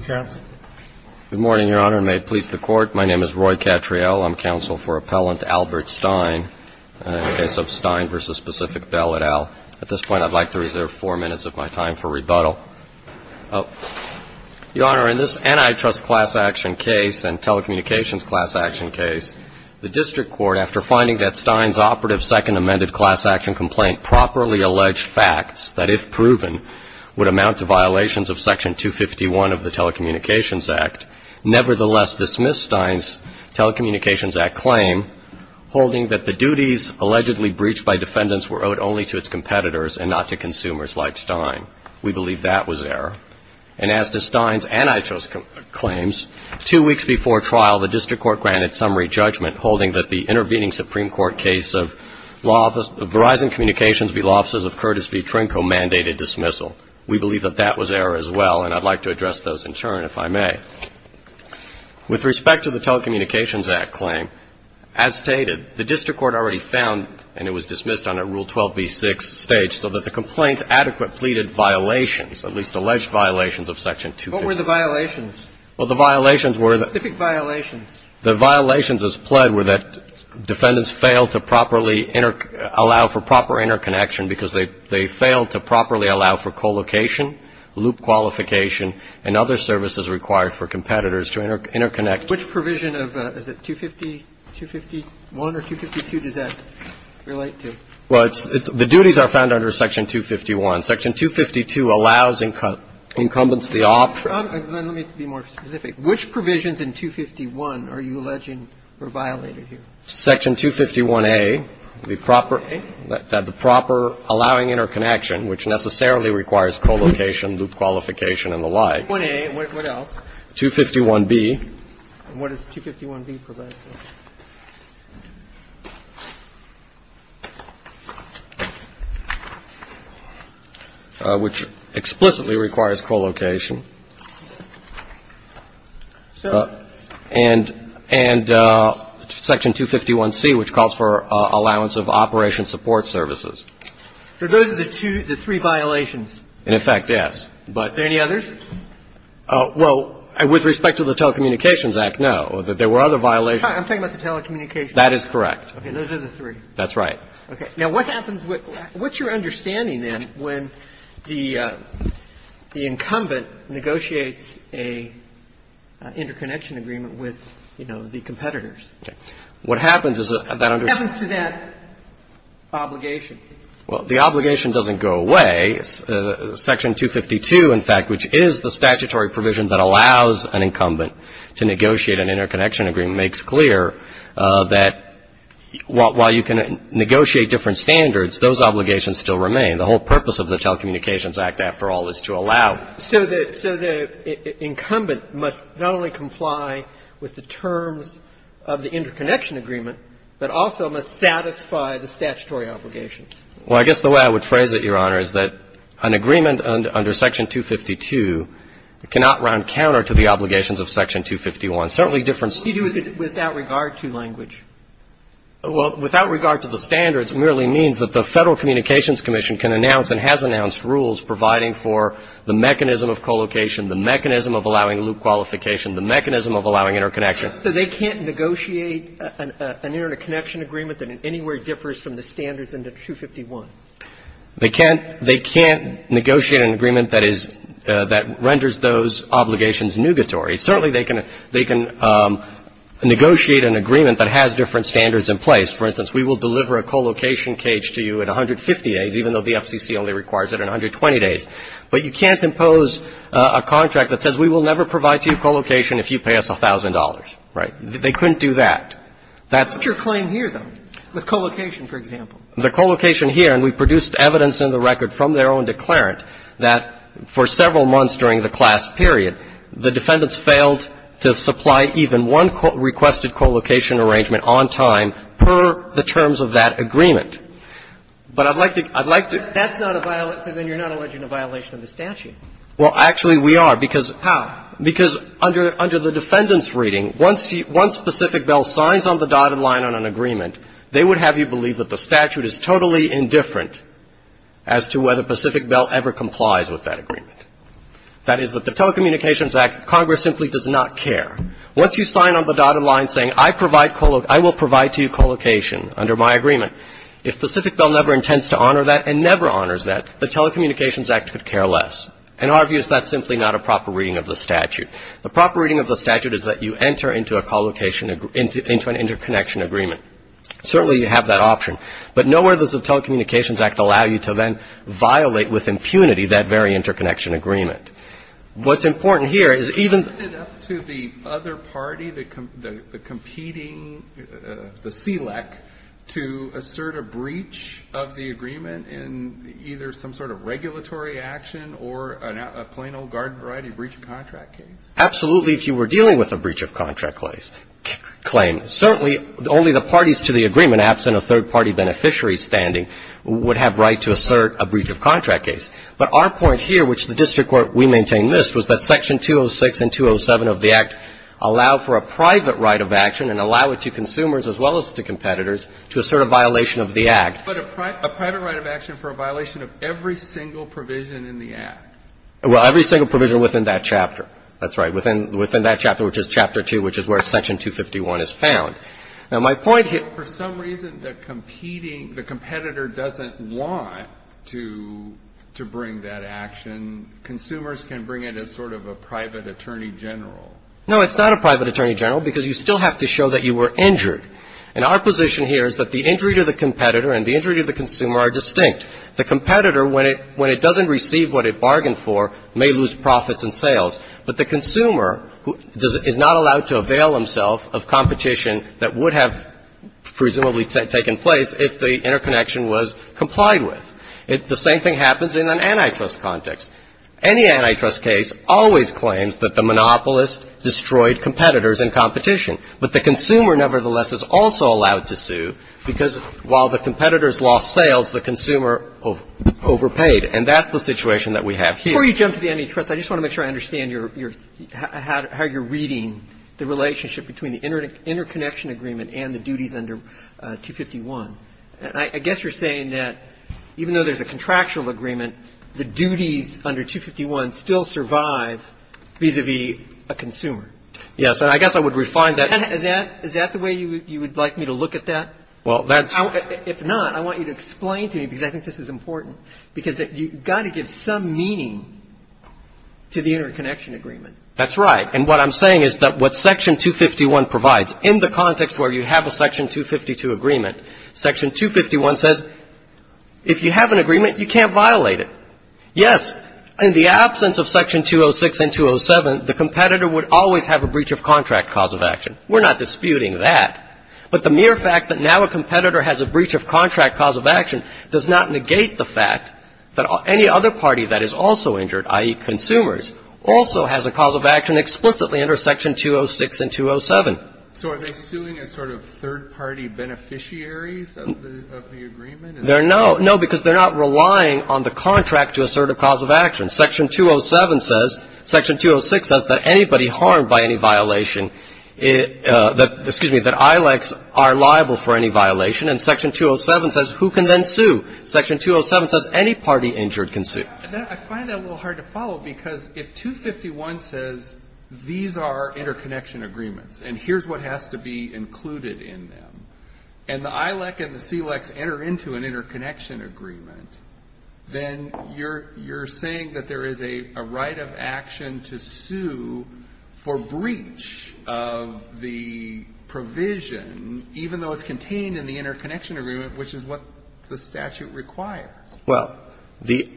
Good morning, Your Honor, and may it please the Court, my name is Roy Cattriel. I'm counsel for Appellant Albert Stein in the case of Stein v. Pacific Bell et al. At this point, I'd like to reserve four minutes of my time for rebuttal. Your Honor, in this antitrust class action case and telecommunications class action case, the district court, after finding that Stein's operative second amended class action complaint had properly alleged facts that, if proven, would amount to violations of Section 251 of the Telecommunications Act, nevertheless dismissed Stein's Telecommunications Act claim, holding that the duties allegedly breached by defendants were owed only to its competitors and not to consumers like Stein. We believe that was error. And as to Stein's antitrust claims, two weeks before trial, the district court granted summary judgment, holding that the intervening Supreme Court case of Verizon Communications v. Law Offices of Curtis v. Trinco mandated dismissal. We believe that that was error as well, and I'd like to address those in turn, if I may. With respect to the Telecommunications Act claim, as stated, the district court already found, and it was dismissed on a Rule 12b-6 stage, so that the complaint adequate pleaded violations, at least alleged violations, of Section 251. What were the violations? Well, the violations were the – Specific violations. The violations as pled were that defendants failed to properly allow for proper interconnection because they failed to properly allow for co-location, loop qualification, and other services required for competitors to interconnect. Which provision of – is it 250, 251 or 252 does that relate to? Well, it's – the duties are found under Section 251. Section 252 allows incumbents the option – Let me be more specific. Which provisions in 251 are you alleging were violated here? Section 251a, the proper – that the proper allowing interconnection, which necessarily requires co-location, loop qualification, and the like. 251a. What else? 251b. And what does 251b provide for? Which explicitly requires co-location. And – and Section 251c, which calls for allowance of operation support services. But those are the two – the three violations. And, in fact, yes. But – Are there any others? Well, with respect to the Telecommunications Act, no. There were other violations. I'm talking about the Telecommunications Act. That is correct. Okay. Those are the three. That's right. Okay. Now, what happens with – what's your understanding, then, when the incumbent negotiates a interconnection agreement with, you know, the competitors? Okay. What happens is that – What happens to that obligation? Well, the obligation doesn't go away. Section 252, in fact, which is the statutory provision that allows an incumbent to negotiate an interconnection agreement, makes clear that while you can negotiate different standards, those obligations still remain. The whole purpose of the Telecommunications Act, after all, is to allow. So the – so the incumbent must not only comply with the terms of the interconnection agreement, but also must satisfy the statutory obligations. Well, I guess the way I would phrase it, Your Honor, is that an agreement under Section 252 cannot run counter to the obligations of Section 251. Certainly different standards. What do you do with it without regard to language? Well, without regard to the standards, it merely means that the Federal Communications Commission can announce and has announced rules providing for the mechanism of collocation, the mechanism of allowing loop qualification, the mechanism of allowing interconnection. So they can't negotiate an interconnection agreement that anywhere differs from the standards under 251? They can't – they can't negotiate an agreement that is – that renders those obligations nugatory. Certainly they can – they can negotiate an agreement that has different standards in place. For instance, we will deliver a collocation cage to you in 150 days, even though the FCC only requires it in 120 days. But you can't impose a contract that says we will never provide to you collocation if you pay us $1,000. Right? They couldn't do that. That's the claim here, though, with collocation, for example. The collocation here, and we've produced evidence in the record from their own declarant, that for several months during the class period, the defendants failed to supply even one requested collocation arrangement on time per the terms of that agreement. But I'd like to – I'd like to – That's not a violation. Then you're not alleging a violation of the statute. Well, actually, we are, because – How? Because under the defendant's reading, once specific bill signs on the dotted line on an agreement, they would have you believe that the statute is totally indifferent as to whether Pacific Bell ever complies with that agreement. That is, that the Telecommunications Act, Congress simply does not care. Once you sign on the dotted line saying I provide – I will provide to you collocation under my agreement, if Pacific Bell never intends to honor that and never honors that, the Telecommunications Act could care less. In our view, that's simply not a proper reading of the statute. The proper reading of the statute is that you enter into a collocation – into an interconnection agreement. Certainly, you have that option. But nowhere does the Telecommunications Act allow you to then violate with impunity that very interconnection agreement. What's important here is even – Is it up to the other party, the competing – the SELEC to assert a breach of the agreement in either some sort of regulatory action or a plain old garden variety breach of contract case? Absolutely, if you were dealing with a breach of contract claim. Certainly, only the parties to the agreement, absent a third-party beneficiary standing, would have right to assert a breach of contract case. But our point here, which the district court, we maintain, missed, was that Section 206 and 207 of the Act allow for a private right of action and allow it to consumers as well as to competitors to assert a violation of the Act. But a private right of action for a violation of every single provision in the Act? Well, every single provision within that chapter. That's right. Within that chapter, which is Chapter 2, which is where Section 251 is found. Now, my point here – But for some reason, the competing – the competitor doesn't want to bring that action. Consumers can bring it as sort of a private attorney general. No, it's not a private attorney general because you still have to show that you were injured. And our position here is that the injury to the competitor and the injury to the consumer are distinct. The competitor, when it doesn't receive what it bargained for, may lose profits and sales. But the consumer is not allowed to avail himself of competition that would have presumably taken place if the interconnection was complied with. The same thing happens in an antitrust context. Any antitrust case always claims that the monopolist destroyed competitors in competition. But the consumer, nevertheless, is also allowed to sue because while the competitors lost sales, the consumer overpaid. And that's the situation that we have here. Before you jump to the antitrust, I just want to make sure I understand your – how you're reading the relationship between the interconnection agreement and the duties under 251. I guess you're saying that even though there's a contractual agreement, the duties under 251 still survive vis-a-vis a consumer. Yes. And I guess I would refine that. Is that the way you would like me to look at that? Well, that's – If not, I want you to explain to me, because I think this is important, because you've got to give some meaning to the interconnection agreement. That's right. And what I'm saying is that what Section 251 provides, in the context where you have a Section 252 agreement, Section 251 says if you have an agreement, you can't violate Yes. In the absence of Section 206 and 207, the competitor would always have a breach of contract cause of action. We're not disputing that. But the mere fact that now a competitor has a breach of contract cause of action does not negate the fact that any other party that is also injured, i.e., consumers, also has a cause of action explicitly under Section 206 and 207. So are they suing as sort of third-party beneficiaries of the agreement? No, because they're not relying on the contract to assert a cause of action. Section 207 says – Section 206 says that anybody harmed by any violation – excuse me, that ILECs are liable for any violation. And Section 207 says who can then sue? Section 207 says any party injured can sue. I find that a little hard to follow, because if 251 says these are interconnection agreements, and here's what has to be included in them, and the ILEC and the CILECs enter into an interconnection agreement, then you're – you're saying that there is a right of action to sue for breach of the provision, even though it's contained in the interconnection agreement, which is what the statute requires. Well, the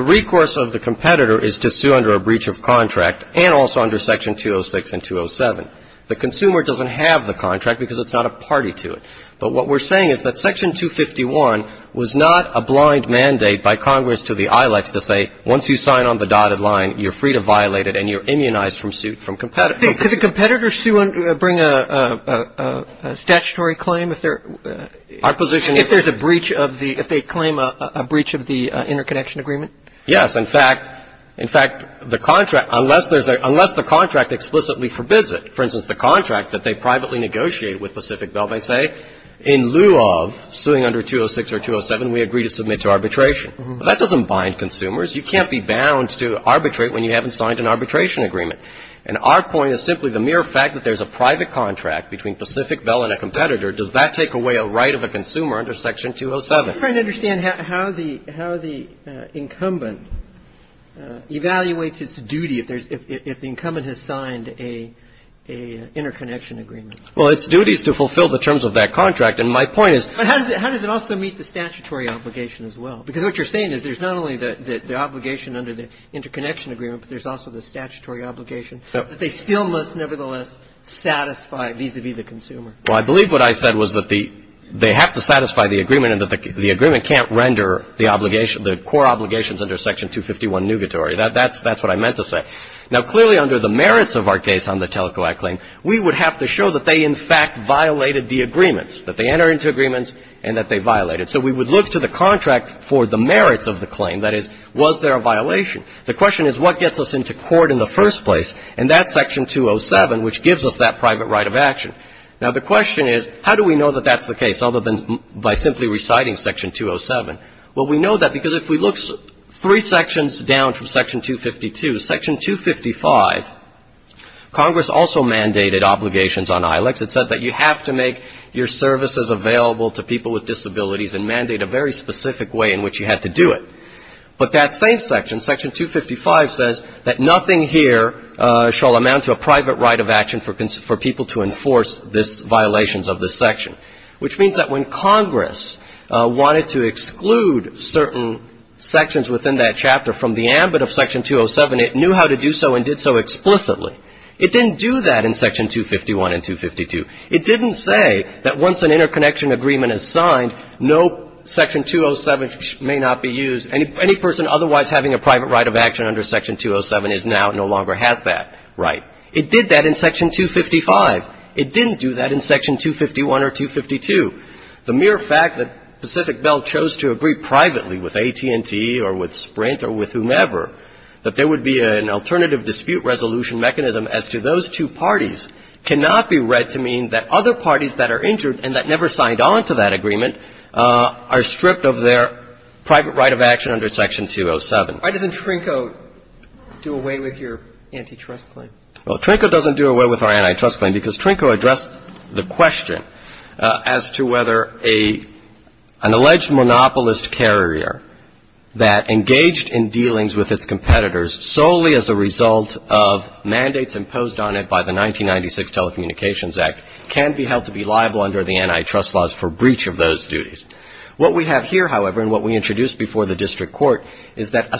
recourse of the competitor is to sue under a breach of contract and also under Section 206 and 207. The consumer doesn't have the contract because it's not a party to it. But what we're saying is that Section 251 was not a blind mandate by Congress to the ILECs to say, once you sign on the dotted line, you're free to violate it and you're immunized from suit from competitors. Could the competitor sue under – bring a statutory claim if they're – Our position is – If there's a breach of the – if they claim a breach of the interconnection agreement? Yes. In fact – in fact, the contract – unless there's a – unless the contract explicitly forbids it. For instance, the contract that they privately negotiate with Pacific Bell may say, in lieu of suing under 206 or 207, we agree to submit to arbitration. That doesn't bind consumers. You can't be bound to arbitrate when you haven't signed an arbitration agreement. And our point is simply the mere fact that there's a private contract between Pacific Bell and a competitor, does that take away a right of a consumer under Section 207? I'm trying to understand how the – how the incumbent evaluates its duty if there's – if the incumbent has signed a interconnection agreement. Well, its duty is to fulfill the terms of that contract. And my point is – But how does it – how does it also meet the statutory obligation as well? Because what you're saying is there's not only the obligation under the interconnection agreement, but there's also the statutory obligation that they still must nevertheless satisfy vis-à-vis the consumer. Well, I believe what I said was that the – they have to satisfy the agreement and that the agreement can't render the core obligations under Section 251 nugatory. That's what I meant to say. Now, clearly under the merits of our case on the TELCO Act claim, we would have to show that they in fact violated the agreements, that they entered into agreements and that they violated. So we would look to the contract for the merits of the claim. That is, was there a violation? The question is what gets us into court in the first place? And that's Section 207, which gives us that private right of action. Now, the question is how do we know that that's the case other than by simply reciting Section 207? Well, we know that because if we look three sections down from Section 252, Section 255, Congress also mandated obligations on ILICs. It said that you have to make your services available to people with disabilities and mandate a very specific way in which you had to do it. But that same section, Section 255, says that nothing here shall amount to a private right of action for people to enforce this violations of this section, which means that when Congress wanted to exclude certain sections within that chapter from the ambit of Section 207, it knew how to do so and did so explicitly. It didn't do that in Section 251 and 252. It didn't say that once an interconnection agreement is signed, no, Section 207 may not be used. Any person otherwise having a private right of action under Section 207 now no longer has that right. It did that in Section 255. It didn't do that in Section 251 or 252. The mere fact that Pacific Bell chose to agree privately with AT&T or with Sprint or with whomever that there would be an alternative dispute resolution mechanism as to those two parties cannot be read to mean that other parties that are injured and that never signed on to that agreement are stripped of their private right of action under Section 207. Why doesn't Trinco do away with your antitrust claim? Well, Trinco doesn't do away with our antitrust claim because Trinco addressed the question as to whether an alleged monopolist carrier that engaged in dealings with its competitors solely as a result of mandates imposed on it by the 1996 Telecommunications Act can be held to be liable under the antitrust laws for breach of those duties. What we have here, however, and what we introduced before the district court, is that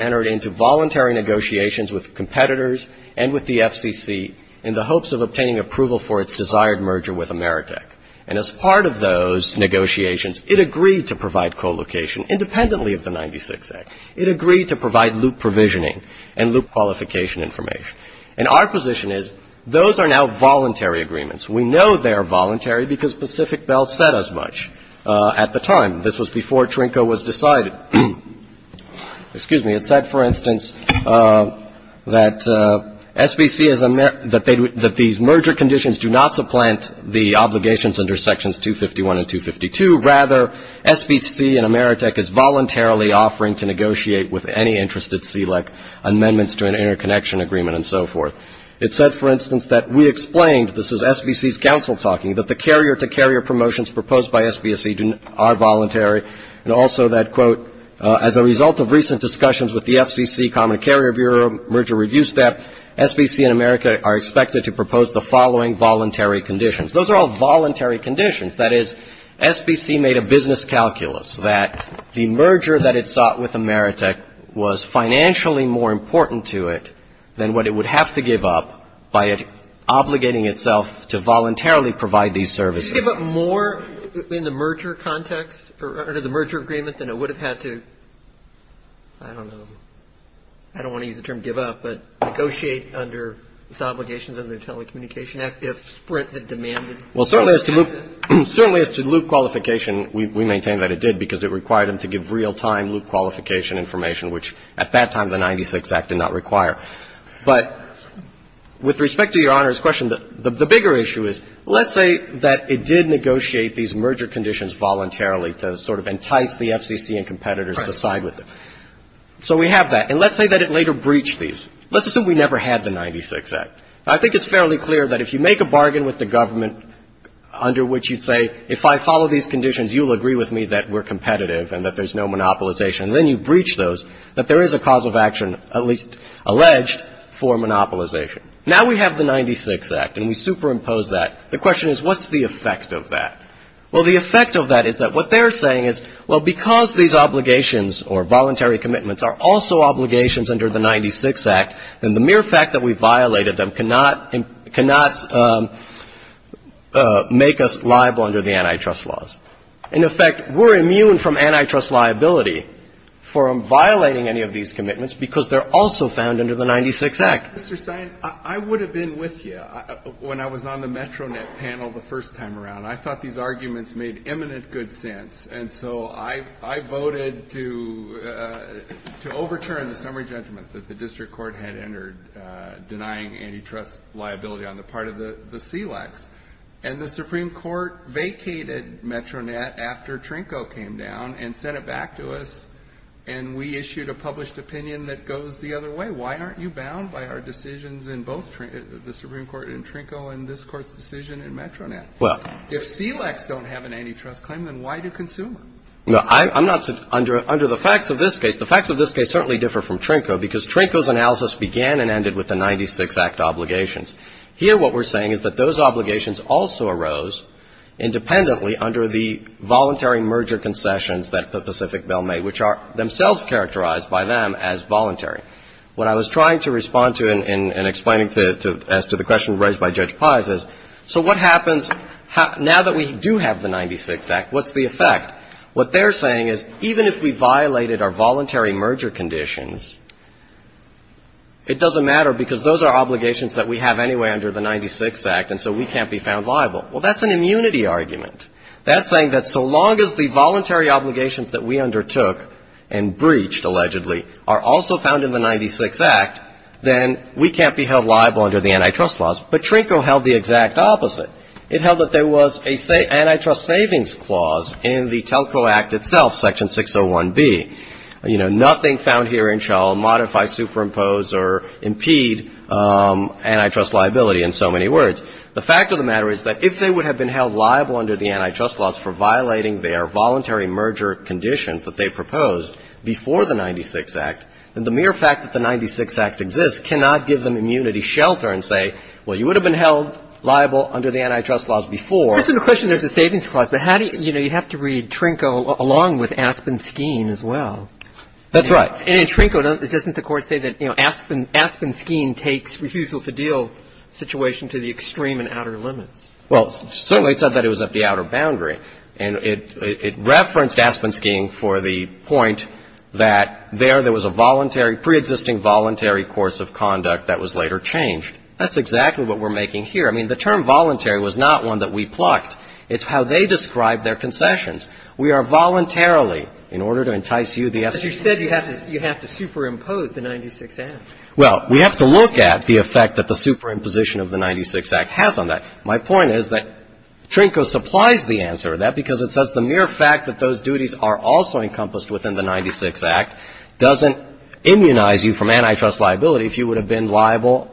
entered into voluntary negotiations with competitors and with the FCC in the hopes of obtaining approval for its desired merger with Ameritech. And as part of those negotiations, it agreed to provide co-location independently of the 1996 Act. It agreed to provide loop provisioning and loop qualification information. And our position is those are now voluntary agreements. We know they are voluntary because Pacific Bell said as much at the time. This was before Trinco was decided. Excuse me. It said, for instance, that SBC is a merger that these merger conditions do not supplant the obligations under Sections 251 and 252. Rather, SBC and Ameritech is voluntarily offering to negotiate with any interested CLEC amendments to an interconnection agreement and so forth. It said, for instance, that we explained, this is SBC's counsel talking, that the carrier-to-carrier motions proposed by SBC are voluntary, and also that, quote, as a result of recent discussions with the FCC, Common Carrier Bureau, merger review staff, SBC and Ameritech are expected to propose the following voluntary conditions. Those are all voluntary conditions. That is, SBC made a business calculus that the merger that it sought with Ameritech was financially more important to it than what it would have to give up by obligating itself to voluntarily provide these services. Just give up more in the merger context or under the merger agreement than it would have had to, I don't know, I don't want to use the term give up, but negotiate under its obligations under the Telecommunication Act if Sprint had demanded services. Well, certainly as to loop qualification, we maintain that it did because it required them to give real-time loop qualification information, which at that time the 96 Act did not require. But with respect to Your Honor's question, the bigger issue is, let's say that it did negotiate these merger conditions voluntarily to sort of entice the FCC and competitors to side with it. So we have that. And let's say that it later breached these. Let's assume we never had the 96 Act. I think it's fairly clear that if you make a bargain with the government under which you'd say, if I follow these conditions, you'll agree with me that we're competitive and that there's no monopolization, and then you breach those, that there is a cause of action, at least alleged, for monopolization. Now we have the 96 Act, and we superimpose that. The question is, what's the effect of that? Well, the effect of that is that what they're saying is, well, because these obligations or voluntary commitments are also obligations under the 96 Act, then the mere fact that we violated them cannot make us liable under the antitrust laws. In effect, we're immune from antitrust liability for violating any of these commitments because they're also found under the 96 Act. Mr. Stein, I would have been with you when I was on the Metronet panel the first time around. I thought these arguments made imminent good sense, and so I voted to overturn the summary judgment that the district court had entered denying antitrust liability on the part of the SELACs. And the Supreme Court vacated Metronet after Trinco came down and sent it back to us, and we issued a published opinion that goes the other way. Why aren't you bound by our decisions in both the Supreme Court in Trinco and this Court's decision in Metronet? If SELACs don't have an antitrust claim, then why do consumers? No, I'm not under the facts of this case. The facts of this case certainly differ from Trinco because Trinco's analysis began and ended with the 96 Act obligations. Here what we're saying is that those obligations also arose independently under the voluntary merger concessions that the Pacific Bell made, which are themselves characterized by them as voluntary. What I was trying to respond to in explaining as to the question raised by Judge Pai says, so what happens now that we do have the 96 Act, what's the effect? What they're saying is even if we violated our voluntary merger conditions, it doesn't matter because those are obligations that we have anyway under the 96 Act, and so we can't be found liable. Well, that's an immunity argument. That's saying that so long as the voluntary obligations that we undertook and breached, allegedly, are also found in the 96 Act, then we can't be held liable under the antitrust laws. But Trinco held the exact opposite. It held that there was an antitrust savings clause in the Telco Act itself, Section 601B. You know, nothing found here in shall modify, superimpose, or impede antitrust liability in so many words. The fact of the matter is that if they would have been held liable under the antitrust laws for violating their voluntary merger conditions that they proposed before the 96 Act, then the mere fact that the 96 Act exists cannot give them immunity shelter and say, well, you would have been held liable under the antitrust laws before. There's a question there's a savings clause. But how do you know you have to read Trinco along with Aspen-Skene as well? That's right. And in Trinco, doesn't the Court say that, you know, Aspen-Skene takes refusal to deal situation to the extreme and outer limits? Well, certainly it said that it was at the outer boundary. And it referenced Aspen-Skene for the point that there there was a voluntary, preexisting voluntary course of conduct that was later changed. That's exactly what we're making here. I mean, the term voluntary was not one that we plucked. It's how they describe their concessions. We are voluntarily, in order to entice you, the FCC. But you said you have to superimpose the 96 Act. Well, we have to look at the effect that the superimposition of the 96 Act has on that. My point is that Trinco supplies the answer to that because it says the mere fact that those duties are also encompassed within the 96 Act doesn't immunize you from antitrust liability if you would have been liable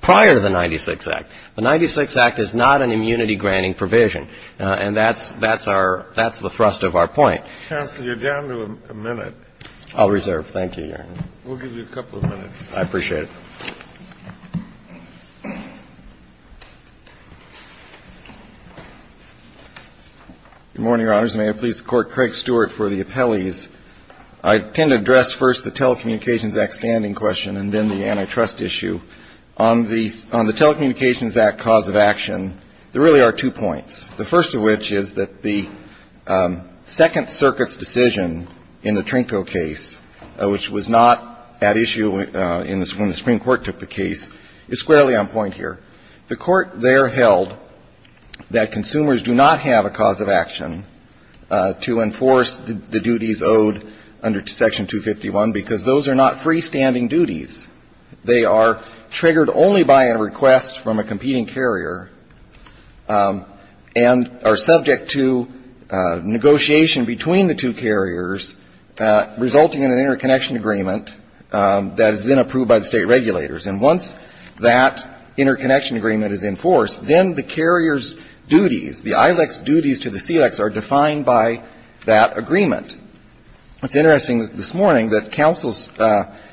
prior to the 96 Act. The 96 Act is not an immunity-granting provision. And that's the thrust of our point. Counsel, you're down to a minute. I'll reserve. Thank you, Your Honor. We'll give you a couple of minutes. I appreciate it. Good morning, Your Honors. May it please the Court. Craig Stewart for the appellees. I intend to address first the Telecommunications Act standing question and then the antitrust issue. On the Telecommunications Act cause of action, there really are two points, the first of which is that the Second Circuit's decision in the Trinco case, which was not at issue when the Supreme Court took the case, is squarely on point here. The Court there held that consumers do not have a cause of action to enforce the duties owed under Section 251 because those are not freestanding duties. They are triggered only by a request from a competing carrier and are subject to negotiation between the two carriers, resulting in an interconnection agreement that is then approved by the State regulators. And once that interconnection agreement is enforced, then the carrier's duties, the ILEC's duties to the CILECs are defined by that agreement. It's interesting this morning that counsel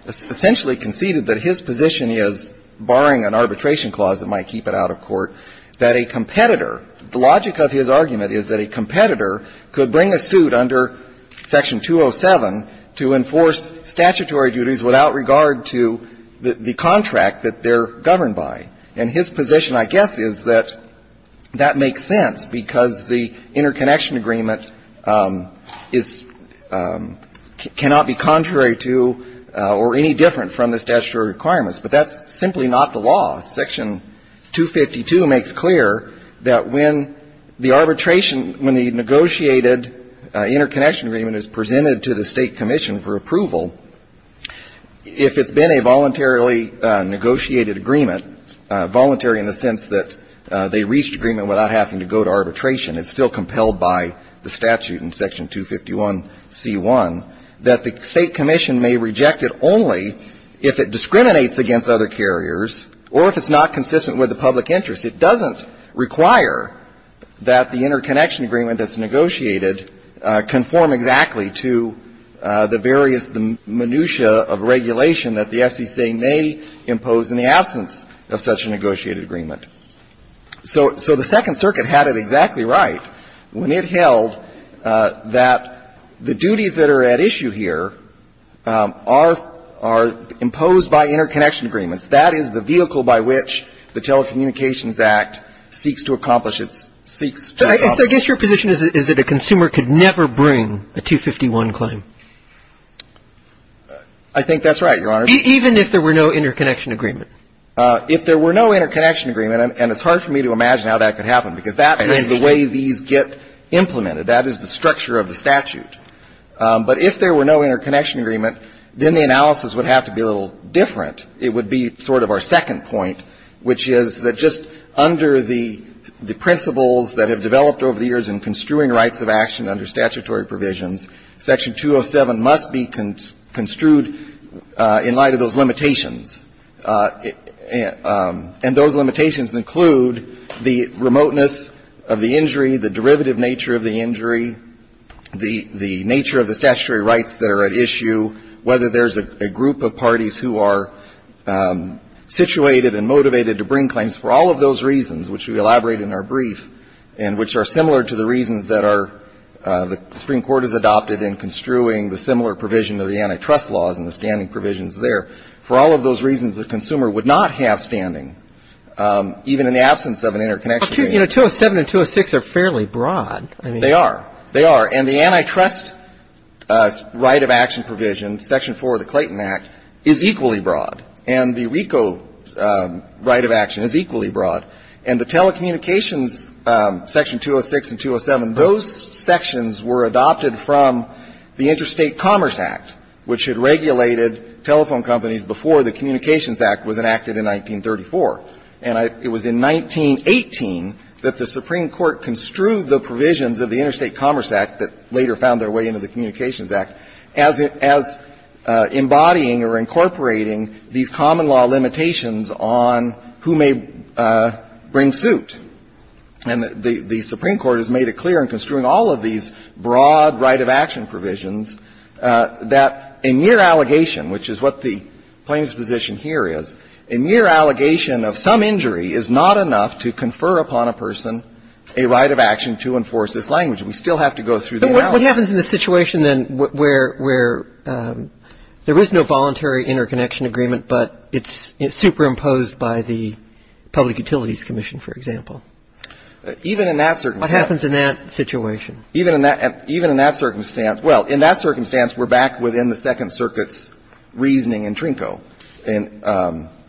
essentially conceded that his position is, barring an arbitration clause that might keep it out of court, that a competitor the logic of his argument is that a competitor could bring a suit under Section 207 to enforce statutory duties without regard to the contract that they're governed by. And his position, I guess, is that that makes sense because the interconnection agreement is, cannot be contrary to or any different from the statutory requirements. But that's simply not the law. Section 252 makes clear that when the arbitration, when the negotiated interconnection agreement is presented to the State commission for approval, if it's been a voluntarily negotiated agreement, voluntary in the sense that they reached agreement without having to go to arbitration, it's still compelled by the statute in Section 251C1, that the State commission may reject it only if it discriminates against other carriers or if it's not consistent with the public interest. It doesn't require that the interconnection agreement that's negotiated conform exactly to the various, the minutia of regulation that the FCC may impose in the absence of such a negotiated agreement. So the Second Circuit had it exactly right when it held that the duties that are at issue here are imposed by interconnection agreements. That is the vehicle by which the Telecommunications Act seeks to accomplish its, seeks to adopt. So I guess your position is that a consumer could never bring a 251 claim? I think that's right, Your Honor. Even if there were no interconnection agreement? If there were no interconnection agreement, and it's hard for me to imagine how that could happen, because that is the way these get implemented. That is the structure of the statute. But if there were no interconnection agreement, then the analysis would have to be a little different. It would be sort of our second point, which is that just under the principles that have developed over the years in construing rights of action under statutory provisions, Section 207 must be construed in light of those limitations. And those limitations include the remoteness of the injury, the derivative nature of the injury, the nature of the statutory rights that are at issue, whether there is a group of parties who are situated and motivated to bring claims for all of those reasons, which we elaborate in our brief, and which are similar to the reasons that are, the Supreme Court has adopted in construing the similar provision of the antitrust laws and the standing provisions there. For all of those reasons, the consumer would not have standing, even in the absence of an interconnection agreement. Well, you know, 207 and 206 are fairly broad. They are. They are. And the antitrust right of action provision, Section 4 of the Clayton Act, is equally broad. And the RICO right of action is equally broad. And the telecommunications, Section 206 and 207, those sections were adopted from the Interstate Commerce Act, which had regulated telephone companies before the Communications Act was enacted in 1934. And it was in 1918 that the Supreme Court construed the provisions of the Interstate Commerce Act that later found their way into the Communications Act as embodying or incorporating these common law limitations on who may bring suit. And the Supreme Court has made it clear in construing all of these broad right of action provisions that a mere allegation, which is what the plaintiff's position here is, a mere allegation of some injury is not enough to confer upon a person a right of action to enforce this language. We still have to go through the analysis. But what happens in the situation then where there is no voluntary interconnection agreement, but it's superimposed by the Public Utilities Commission, for example? Even in that circumstance. What happens in that situation? Even in that circumstance. Well, in that circumstance, we're back within the Second Circuit's reasoning in Trinco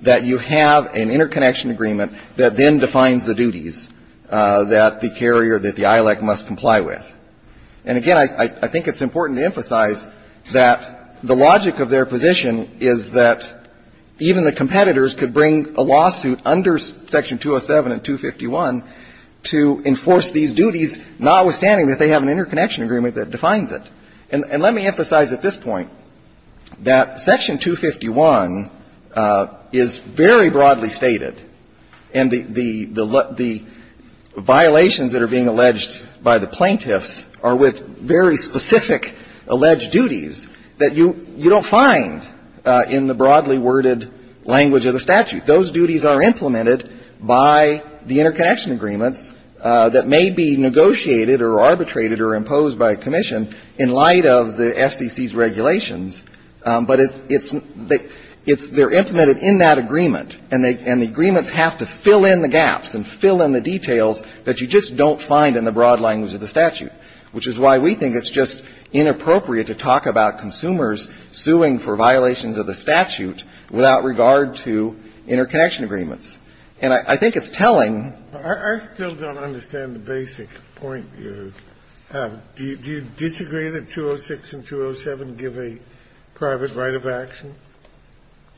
that you have an interconnection agreement that then defines the duties that the carrier, that the ILEC must comply with. And again, I think it's important to emphasize that the logic of their position is that even the competitors could bring a lawsuit under Section 207 and 251 to enforce these duties, notwithstanding that they have an interconnection agreement that defines it. And let me emphasize at this point that Section 251 is very broadly stated, and the violations that are being alleged by the plaintiffs are with very specific alleged duties that you don't find in the broadly worded language of the statute. Those duties are implemented by the interconnection agreements that may be negotiated or arbitrated or imposed by a commission in light of the FCC's regulations. But it's they're implemented in that agreement, and the agreements have to fill in the gaps and fill in the details that you just don't find in the broad language of the statute without regard to interconnection agreements. And I think it's telling. I still don't understand the basic point you have. Do you disagree that 206 and 207 give a private right of action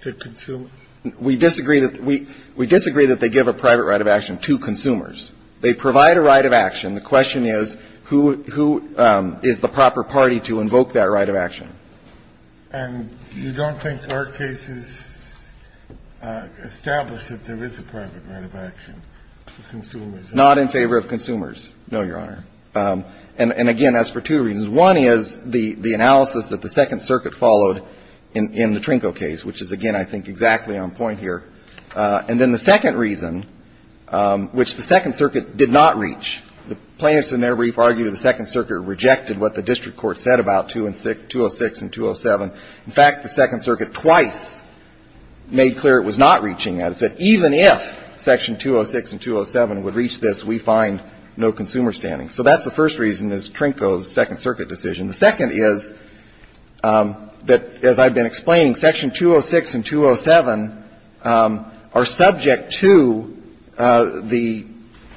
to consumers? We disagree that they give a private right of action to consumers. They provide a right of action. The question is, who is the proper party to invoke that right of action? And you don't think our case is established that there is a private right of action to consumers? Not in favor of consumers, no, Your Honor. And, again, as for two reasons. One is the analysis that the Second Circuit followed in the Trinko case, which is, again, I think exactly on point here. And then the second reason, which the Second Circuit did not reach, the plaintiffs in their brief argued the Second Circuit rejected what the district court said about 206 and 207. In fact, the Second Circuit twice made clear it was not reaching that. It said even if Section 206 and 207 would reach this, we find no consumer standing. So that's the first reason, is Trinko's Second Circuit decision. The second is that, as I've been explaining, Section 206 and 207 are subject to the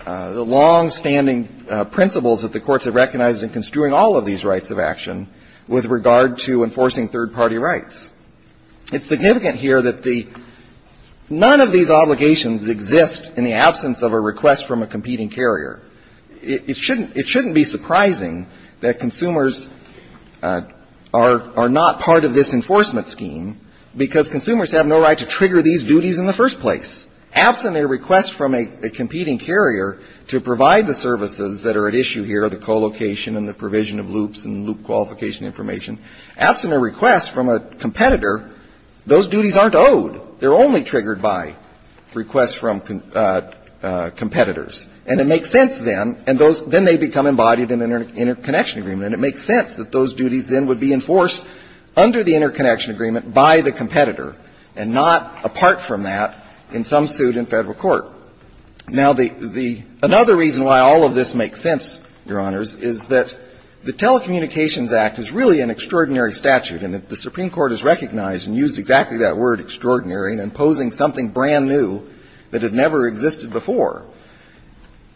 longstanding principles that the courts have recognized in construing all of these rights of action with regard to enforcing third-party rights. It's significant here that the none of these obligations exist in the absence of a request from a competing carrier. It shouldn't be surprising that consumers are not part of this enforcement scheme because consumers have no right to trigger these duties in the first place. Absent a request from a competing carrier to provide the services that are at issue here, the co-location and the provision of loops and loop qualification information, absent a request from a competitor, those duties aren't owed. They're only triggered by requests from competitors. And it makes sense then, and those, then they become embodied in an interconnection agreement. And it makes sense that those duties then would be enforced under the interconnection agreement by the competitor and not apart from that in some suit in Federal court. Now, the, the, another reason why all of this makes sense, Your Honors, is that the Telecommunications Act is really an extraordinary statute. brand-new that had never existed before.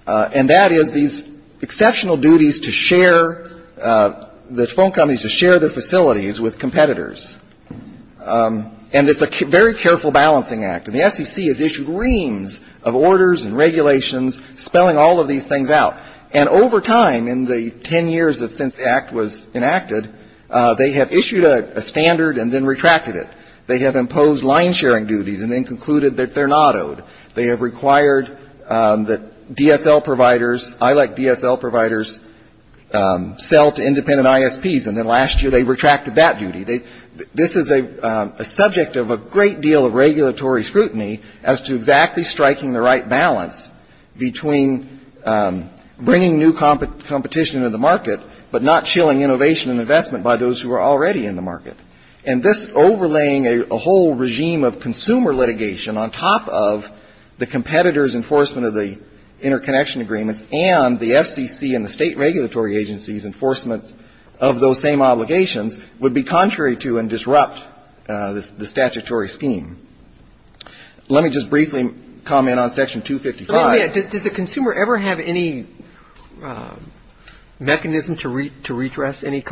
And that is these exceptional duties to share, the phone companies to share their facilities with competitors. And it's a very careful balancing act. And the SEC has issued reams of orders and regulations spelling all of these things out. And over time, in the ten years since the act was enacted, they have issued a standard and then retracted it. They have imposed line-sharing duties and then concluded that they're not owed. They have required that DSL providers, I like DSL providers, sell to independent ISPs. And then last year they retracted that duty. This is a subject of a great deal of regulatory scrutiny as to exactly striking the right balance between bringing new competition to the market, but not chilling innovation and investment by those who are already in the market. And this overlaying a whole regime of consumer litigation on top of the competitor's enforcement of the interconnection agreements and the FCC and the state regulatory agency's enforcement of those same obligations would be contrary to and disrupt the statutory scheme. Let me just briefly comment on Section 255. Wait a minute. Does the consumer ever have any mechanism to redress any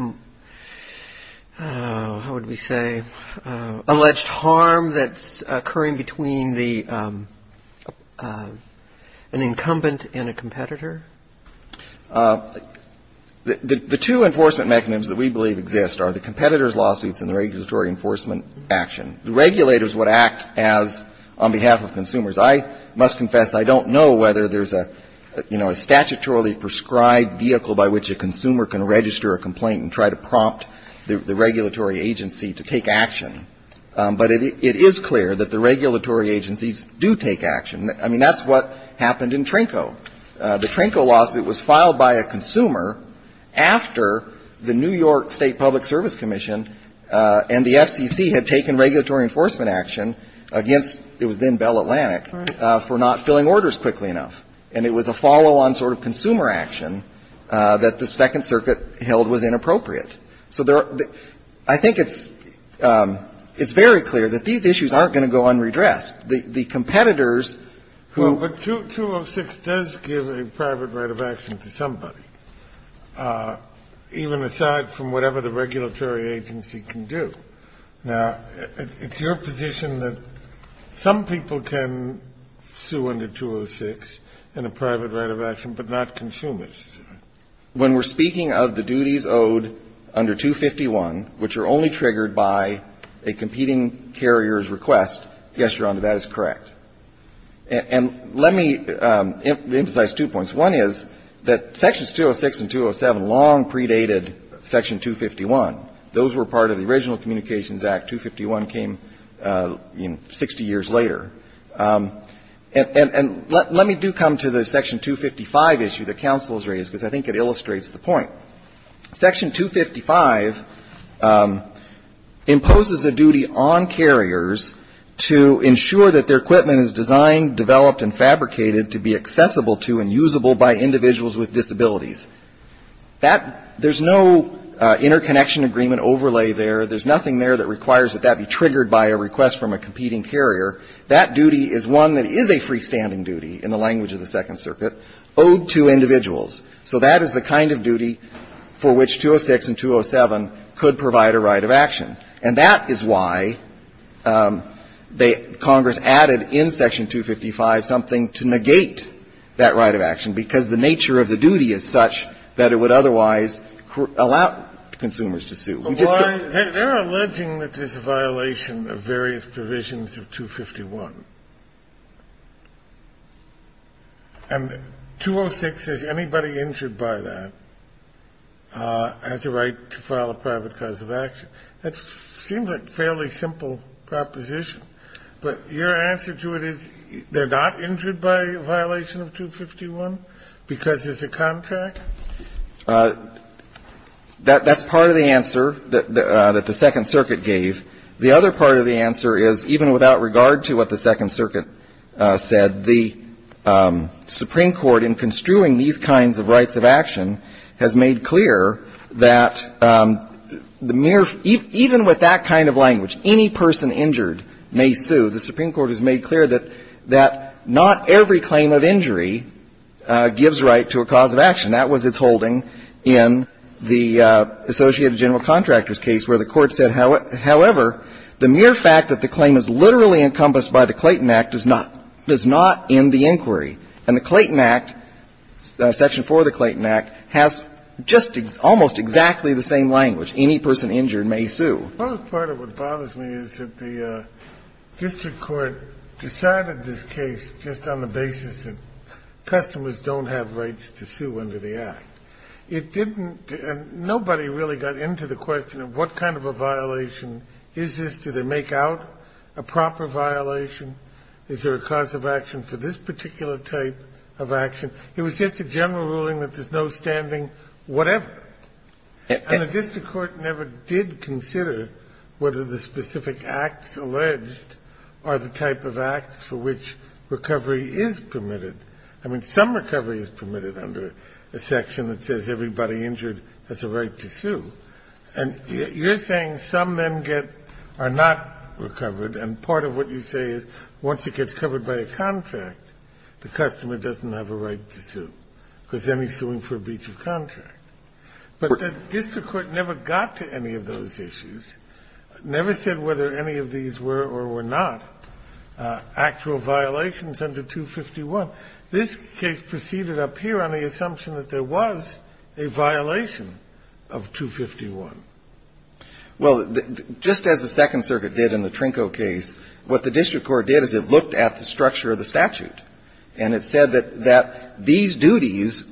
alleged harm that's occurring between an incumbent and a competitor? The two enforcement mechanisms that we believe exist are the competitor's lawsuits and the regulatory enforcement action. The regulators would act as on behalf of consumers. I must confess I don't know whether there's a, you know, a statutorily prescribed vehicle by which a consumer can register a complaint and try to prompt the regulatory agency to take action, but it is clear that the regulatory agencies do take action. I mean, that's what happened in Trenco. The Trenco lawsuit was filed by a consumer after the New York State Public Service Commission and the FCC had taken regulatory enforcement action against, it was then Bell Atlantic, for not filling orders quickly enough. And it was a follow-on sort of consumer action that the Second Circuit held was inappropriate. So there are the – I think it's very clear that these issues aren't going to go unredressed. The competitors who – Well, but 206 does give a private right of action to somebody, even aside from whatever the regulatory agency can do. Now, it's your position that some people can sue under 206 in a private right of action, but not consumers. When we're speaking of the duties owed under 251, which are only triggered by a competing carrier's request, yes, Your Honor, that is correct. And let me emphasize two points. One is that Sections 206 and 207 long predated Section 251. Those were part of the original Communications Act. 251 came, you know, 60 years later. And let me do come to the Section 255 issue that counsel has raised, because I think it illustrates the point. Section 255 imposes a duty on carriers to ensure that their equipment is designed, developed, and fabricated to be accessible to and usable by individuals with disabilities. That – there's no interconnection agreement overlay there. There's nothing there that requires that that be triggered by a request from a competing carrier. That duty is one that is a freestanding duty in the language of the Second Circuit, owed to individuals. So that is the kind of duty for which 206 and 207 could provide a right of action. And that is why Congress added in Section 255 something to negate that right of action, because the nature of the duty is such that it would otherwise allow consumers to sue. We just don't. Kennedy. They're alleging that there's a violation of various provisions of 251. And 206 says anybody injured by that has a right to file a private cause of action. That seems like a fairly simple proposition. But your answer to it is they're not injured by a violation of 251 because there's a contract? That's part of the answer that the Second Circuit gave. The other part of the answer is, even without regard to what the Second Circuit said, the Supreme Court, in construing these kinds of rights of action, has made clear that the mere – even with that kind of language, any person injured may sue, the Supreme Court has made clear that not every claim of injury gives right to a cause of action. That was its holding in the Associated General Contractors case, where the Court said, however, the mere fact that the claim is literally encompassed by the Clayton Act does not end the inquiry. And the Clayton Act, Section 4 of the Clayton Act, has just almost exactly the same language. Any person injured may sue. Well, part of what bothers me is that the district court decided this case just on the basis of the act. It didn't – and nobody really got into the question of what kind of a violation is this. Do they make out a proper violation? Is there a cause of action for this particular type of action? It was just a general ruling that there's no standing whatever. And the district court never did consider whether the specific acts alleged are the type of acts for which recovery is permitted. I mean, some recovery is permitted under a section that says everybody injured has a right to sue. And you're saying some men get – are not recovered, and part of what you say is once it gets covered by a contract, the customer doesn't have a right to sue, because then he's suing for a breach of contract. But the district court never got to any of those issues, never said whether any of these were or were not actual violations under 251. This case proceeded up here on the assumption that there was a violation of 251. Well, just as the Second Circuit did in the Trinko case, what the district court did is it looked at the structure of the statute. And it said that these duties,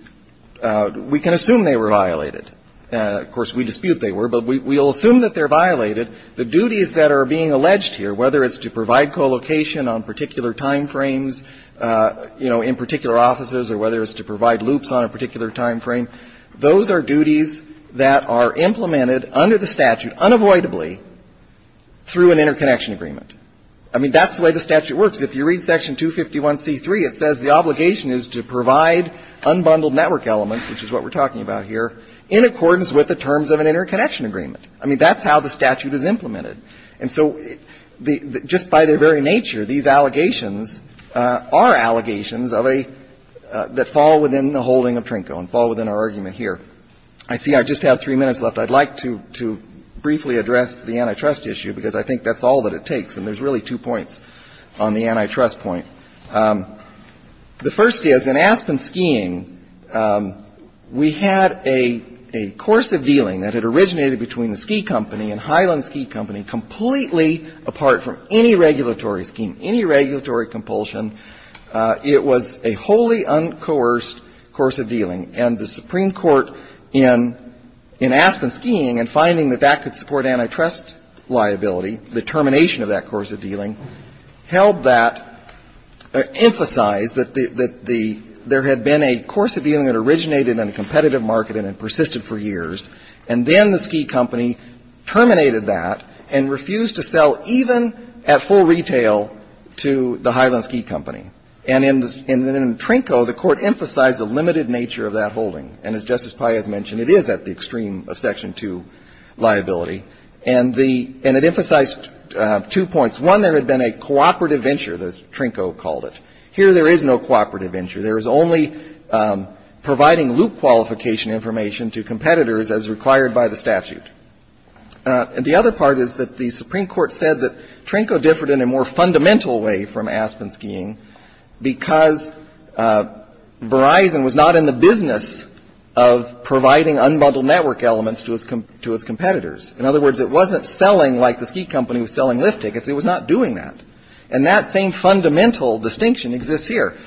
we can assume they were violated. Of course, we dispute they were, but we'll assume that they're violated. The duties that are being alleged here, whether it's to provide co-location on particular time frames, you know, in particular offices, or whether it's to provide loops on a particular time frame, those are duties that are implemented under the statute unavoidably through an interconnection agreement. I mean, that's the way the statute works. If you read Section 251c3, it says the obligation is to provide unbundled network elements, which is what we're talking about here, in accordance with the terms of an interconnection agreement. I mean, that's how the statute is implemented. And so just by their very nature, these allegations are allegations of a — that fall within the holding of Trinko and fall within our argument here. I see I just have three minutes left. I'd like to briefly address the antitrust issue, because I think that's all that it takes. And there's really two points on the antitrust point. The first is, in Aspen Skiing, we had a course of dealing that had originated between the ski company and Highland Ski Company completely apart from any regulatory scheme, any regulatory compulsion. It was a wholly uncoerced course of dealing. And the Supreme Court, in Aspen Skiing, in finding that that could support antitrust liability, the termination of that course of dealing, held that, emphasized that the — that the — there had been a course of dealing that originated in a competitive market and had persisted for years. And then the ski company terminated that and refused to sell even at full retail to the Highland Ski Company. And in Trinko, the Court emphasized the limited nature of that holding. And as Justice Paez mentioned, it is at the extreme of Section 2 liability. And the — and it emphasized two points. One, there had been a cooperative venture, as Trinko called it. Here, there is no cooperative venture. There is only providing loop qualification information to competitors as required by the statute. And the other part is that the Supreme Court said that Trinko differed in a more fundamental way from Aspen Skiing because Verizon was not in the business of providing unbundled network elements to its competitors. In other words, it wasn't selling like the ski company was selling lift tickets. It was not doing that. And that same fundamental distinction exists here.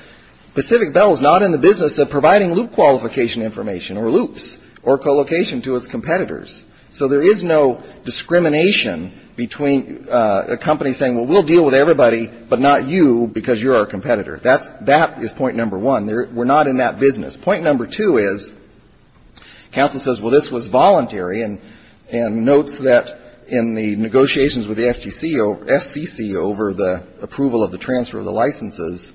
Pacific Bell is not in the business of providing loop qualification information or loops or co-location to its competitors. So there is no discrimination between a company saying, well, we'll deal with everybody, but not you because you're our competitor. That is point number one. We're not in that business. Point number two is, counsel says, well, this was voluntary and notes that in the negotiations with the FCC over the approval of the transfer of the licenses,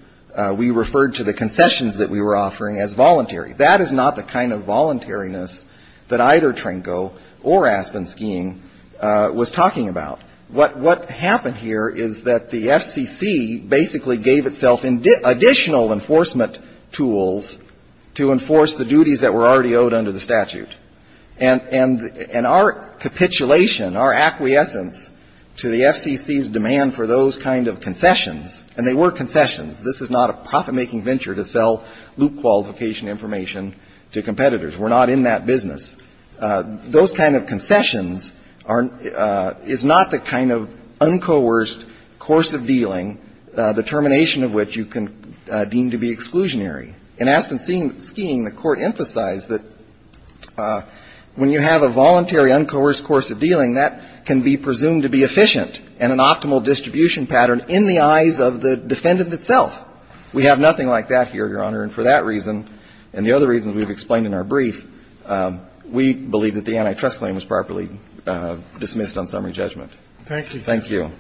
we referred to the concessions that we were offering as voluntary. That is not the kind of voluntariness that either Trinko or Aspen Skiing was talking about. What happened here is that the FCC basically gave itself additional enforcement tools to enforce the duties that were already owed under the statute. And our capitulation, our acquiescence to the FCC's demand for those kind of concessions and they were concessions, this is not a profit-making venture to sell loop qualification information to competitors. We're not in that business. Those kind of concessions is not the kind of uncoerced course of dealing, the termination of which you can deem to be exclusionary. In Aspen Skiing, the Court emphasized that when you have a voluntary uncoerced course of dealing, that can be presumed to be efficient and an optimal distribution pattern in the eyes of the defendant itself. We have nothing like that here, Your Honor, and for that reason and the other reasons we've explained in our brief, we believe that the antitrust claim was properly dismissed on summary judgment. Thank you. Thank you.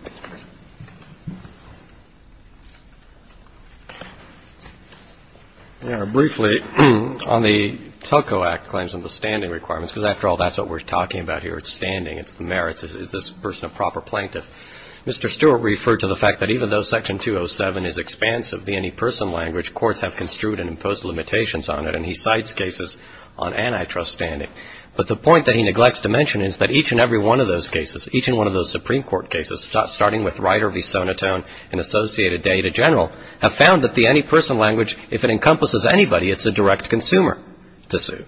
Mr. Stewart. Briefly, on the Telco Act claims and the standing requirements, because after all, that's what we're talking about here. It's standing. It's the merits. Is this person a proper plaintiff? Mr. Stewart referred to the fact that even though Section 207 is expansive, the any person language, courts have construed and imposed limitations on it, and he cites cases on antitrust standing. But the point that he neglects to mention is that each and every one of those cases, starting with Ryder v. Sonotone and associated data general, have found that the any person language, if it encompasses anybody, it's a direct consumer to sue.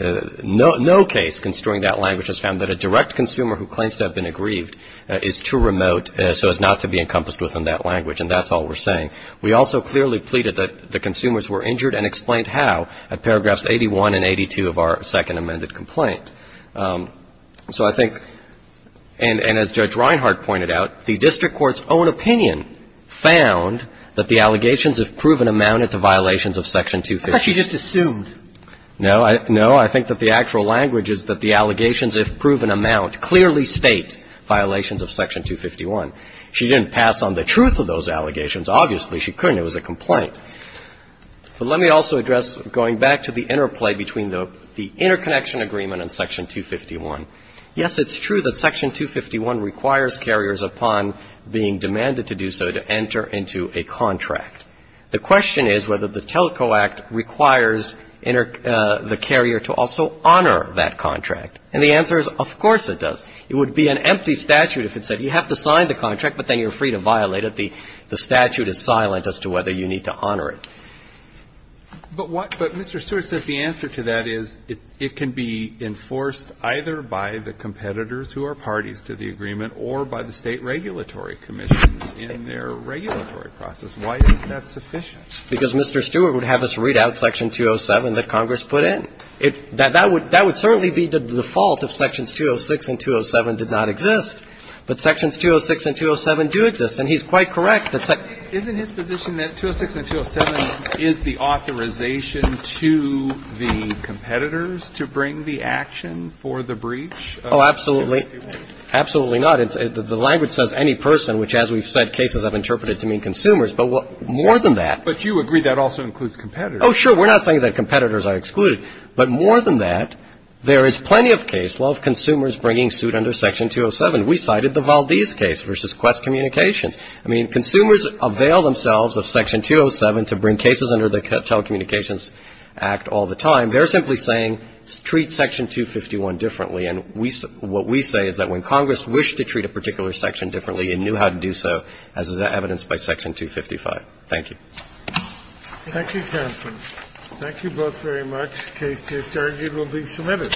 No case construing that language has found that a direct consumer who claims to have been aggrieved is too remote so as not to be encompassed within that language, and that's all we're saying. We also clearly pleaded that the consumers were injured and explained how at paragraphs 81 and 82 of our second amended complaint. So I think, and as Judge Reinhart pointed out, the district court's own opinion found that the allegations, if proven, amounted to violations of Section 251. But she just assumed. No. No. I think that the actual language is that the allegations, if proven, amount clearly state violations of Section 251. She didn't pass on the truth of those allegations. Obviously, she couldn't. It was a complaint. But let me also address, going back to the interplay between the interconnection agreement and Section 251, yes, it's true that Section 251 requires carriers upon being demanded to do so to enter into a contract. The question is whether the Telco Act requires the carrier to also honor that contract. And the answer is, of course it does. It would be an empty statute if it said you have to sign the contract, but then you're free to violate it. The statute is silent as to whether you need to honor it. But what Mr. Stewart says the answer to that is it can be enforced either by the competitors who are parties to the agreement or by the State regulatory commissions in their regulatory process. Why isn't that sufficient? Because Mr. Stewart would have us read out Section 207 that Congress put in. That would certainly be the default if Sections 206 and 207 did not exist. But Sections 206 and 207 do exist. And he's quite correct. Isn't his position that 206 and 207 is the authorization to the competitors to bring the action for the breach? Oh, absolutely. Absolutely not. The language says any person, which as we've said, cases I've interpreted to mean consumers. But more than that. But you agree that also includes competitors. Oh, sure. We're not saying that competitors are excluded. But more than that, there is plenty of case law of consumers bringing suit under Section 207. We cited the Valdez case versus Quest Communications. I mean, consumers avail themselves of Section 207 to bring cases under the Telecommunications Act all the time. They're simply saying treat Section 251 differently. And what we say is that when Congress wished to treat a particular section differently and knew how to do so, as is evidenced by Section 255. Thank you. Thank you, counsel. Thank you both very much. The case to be adjourned will be submitted.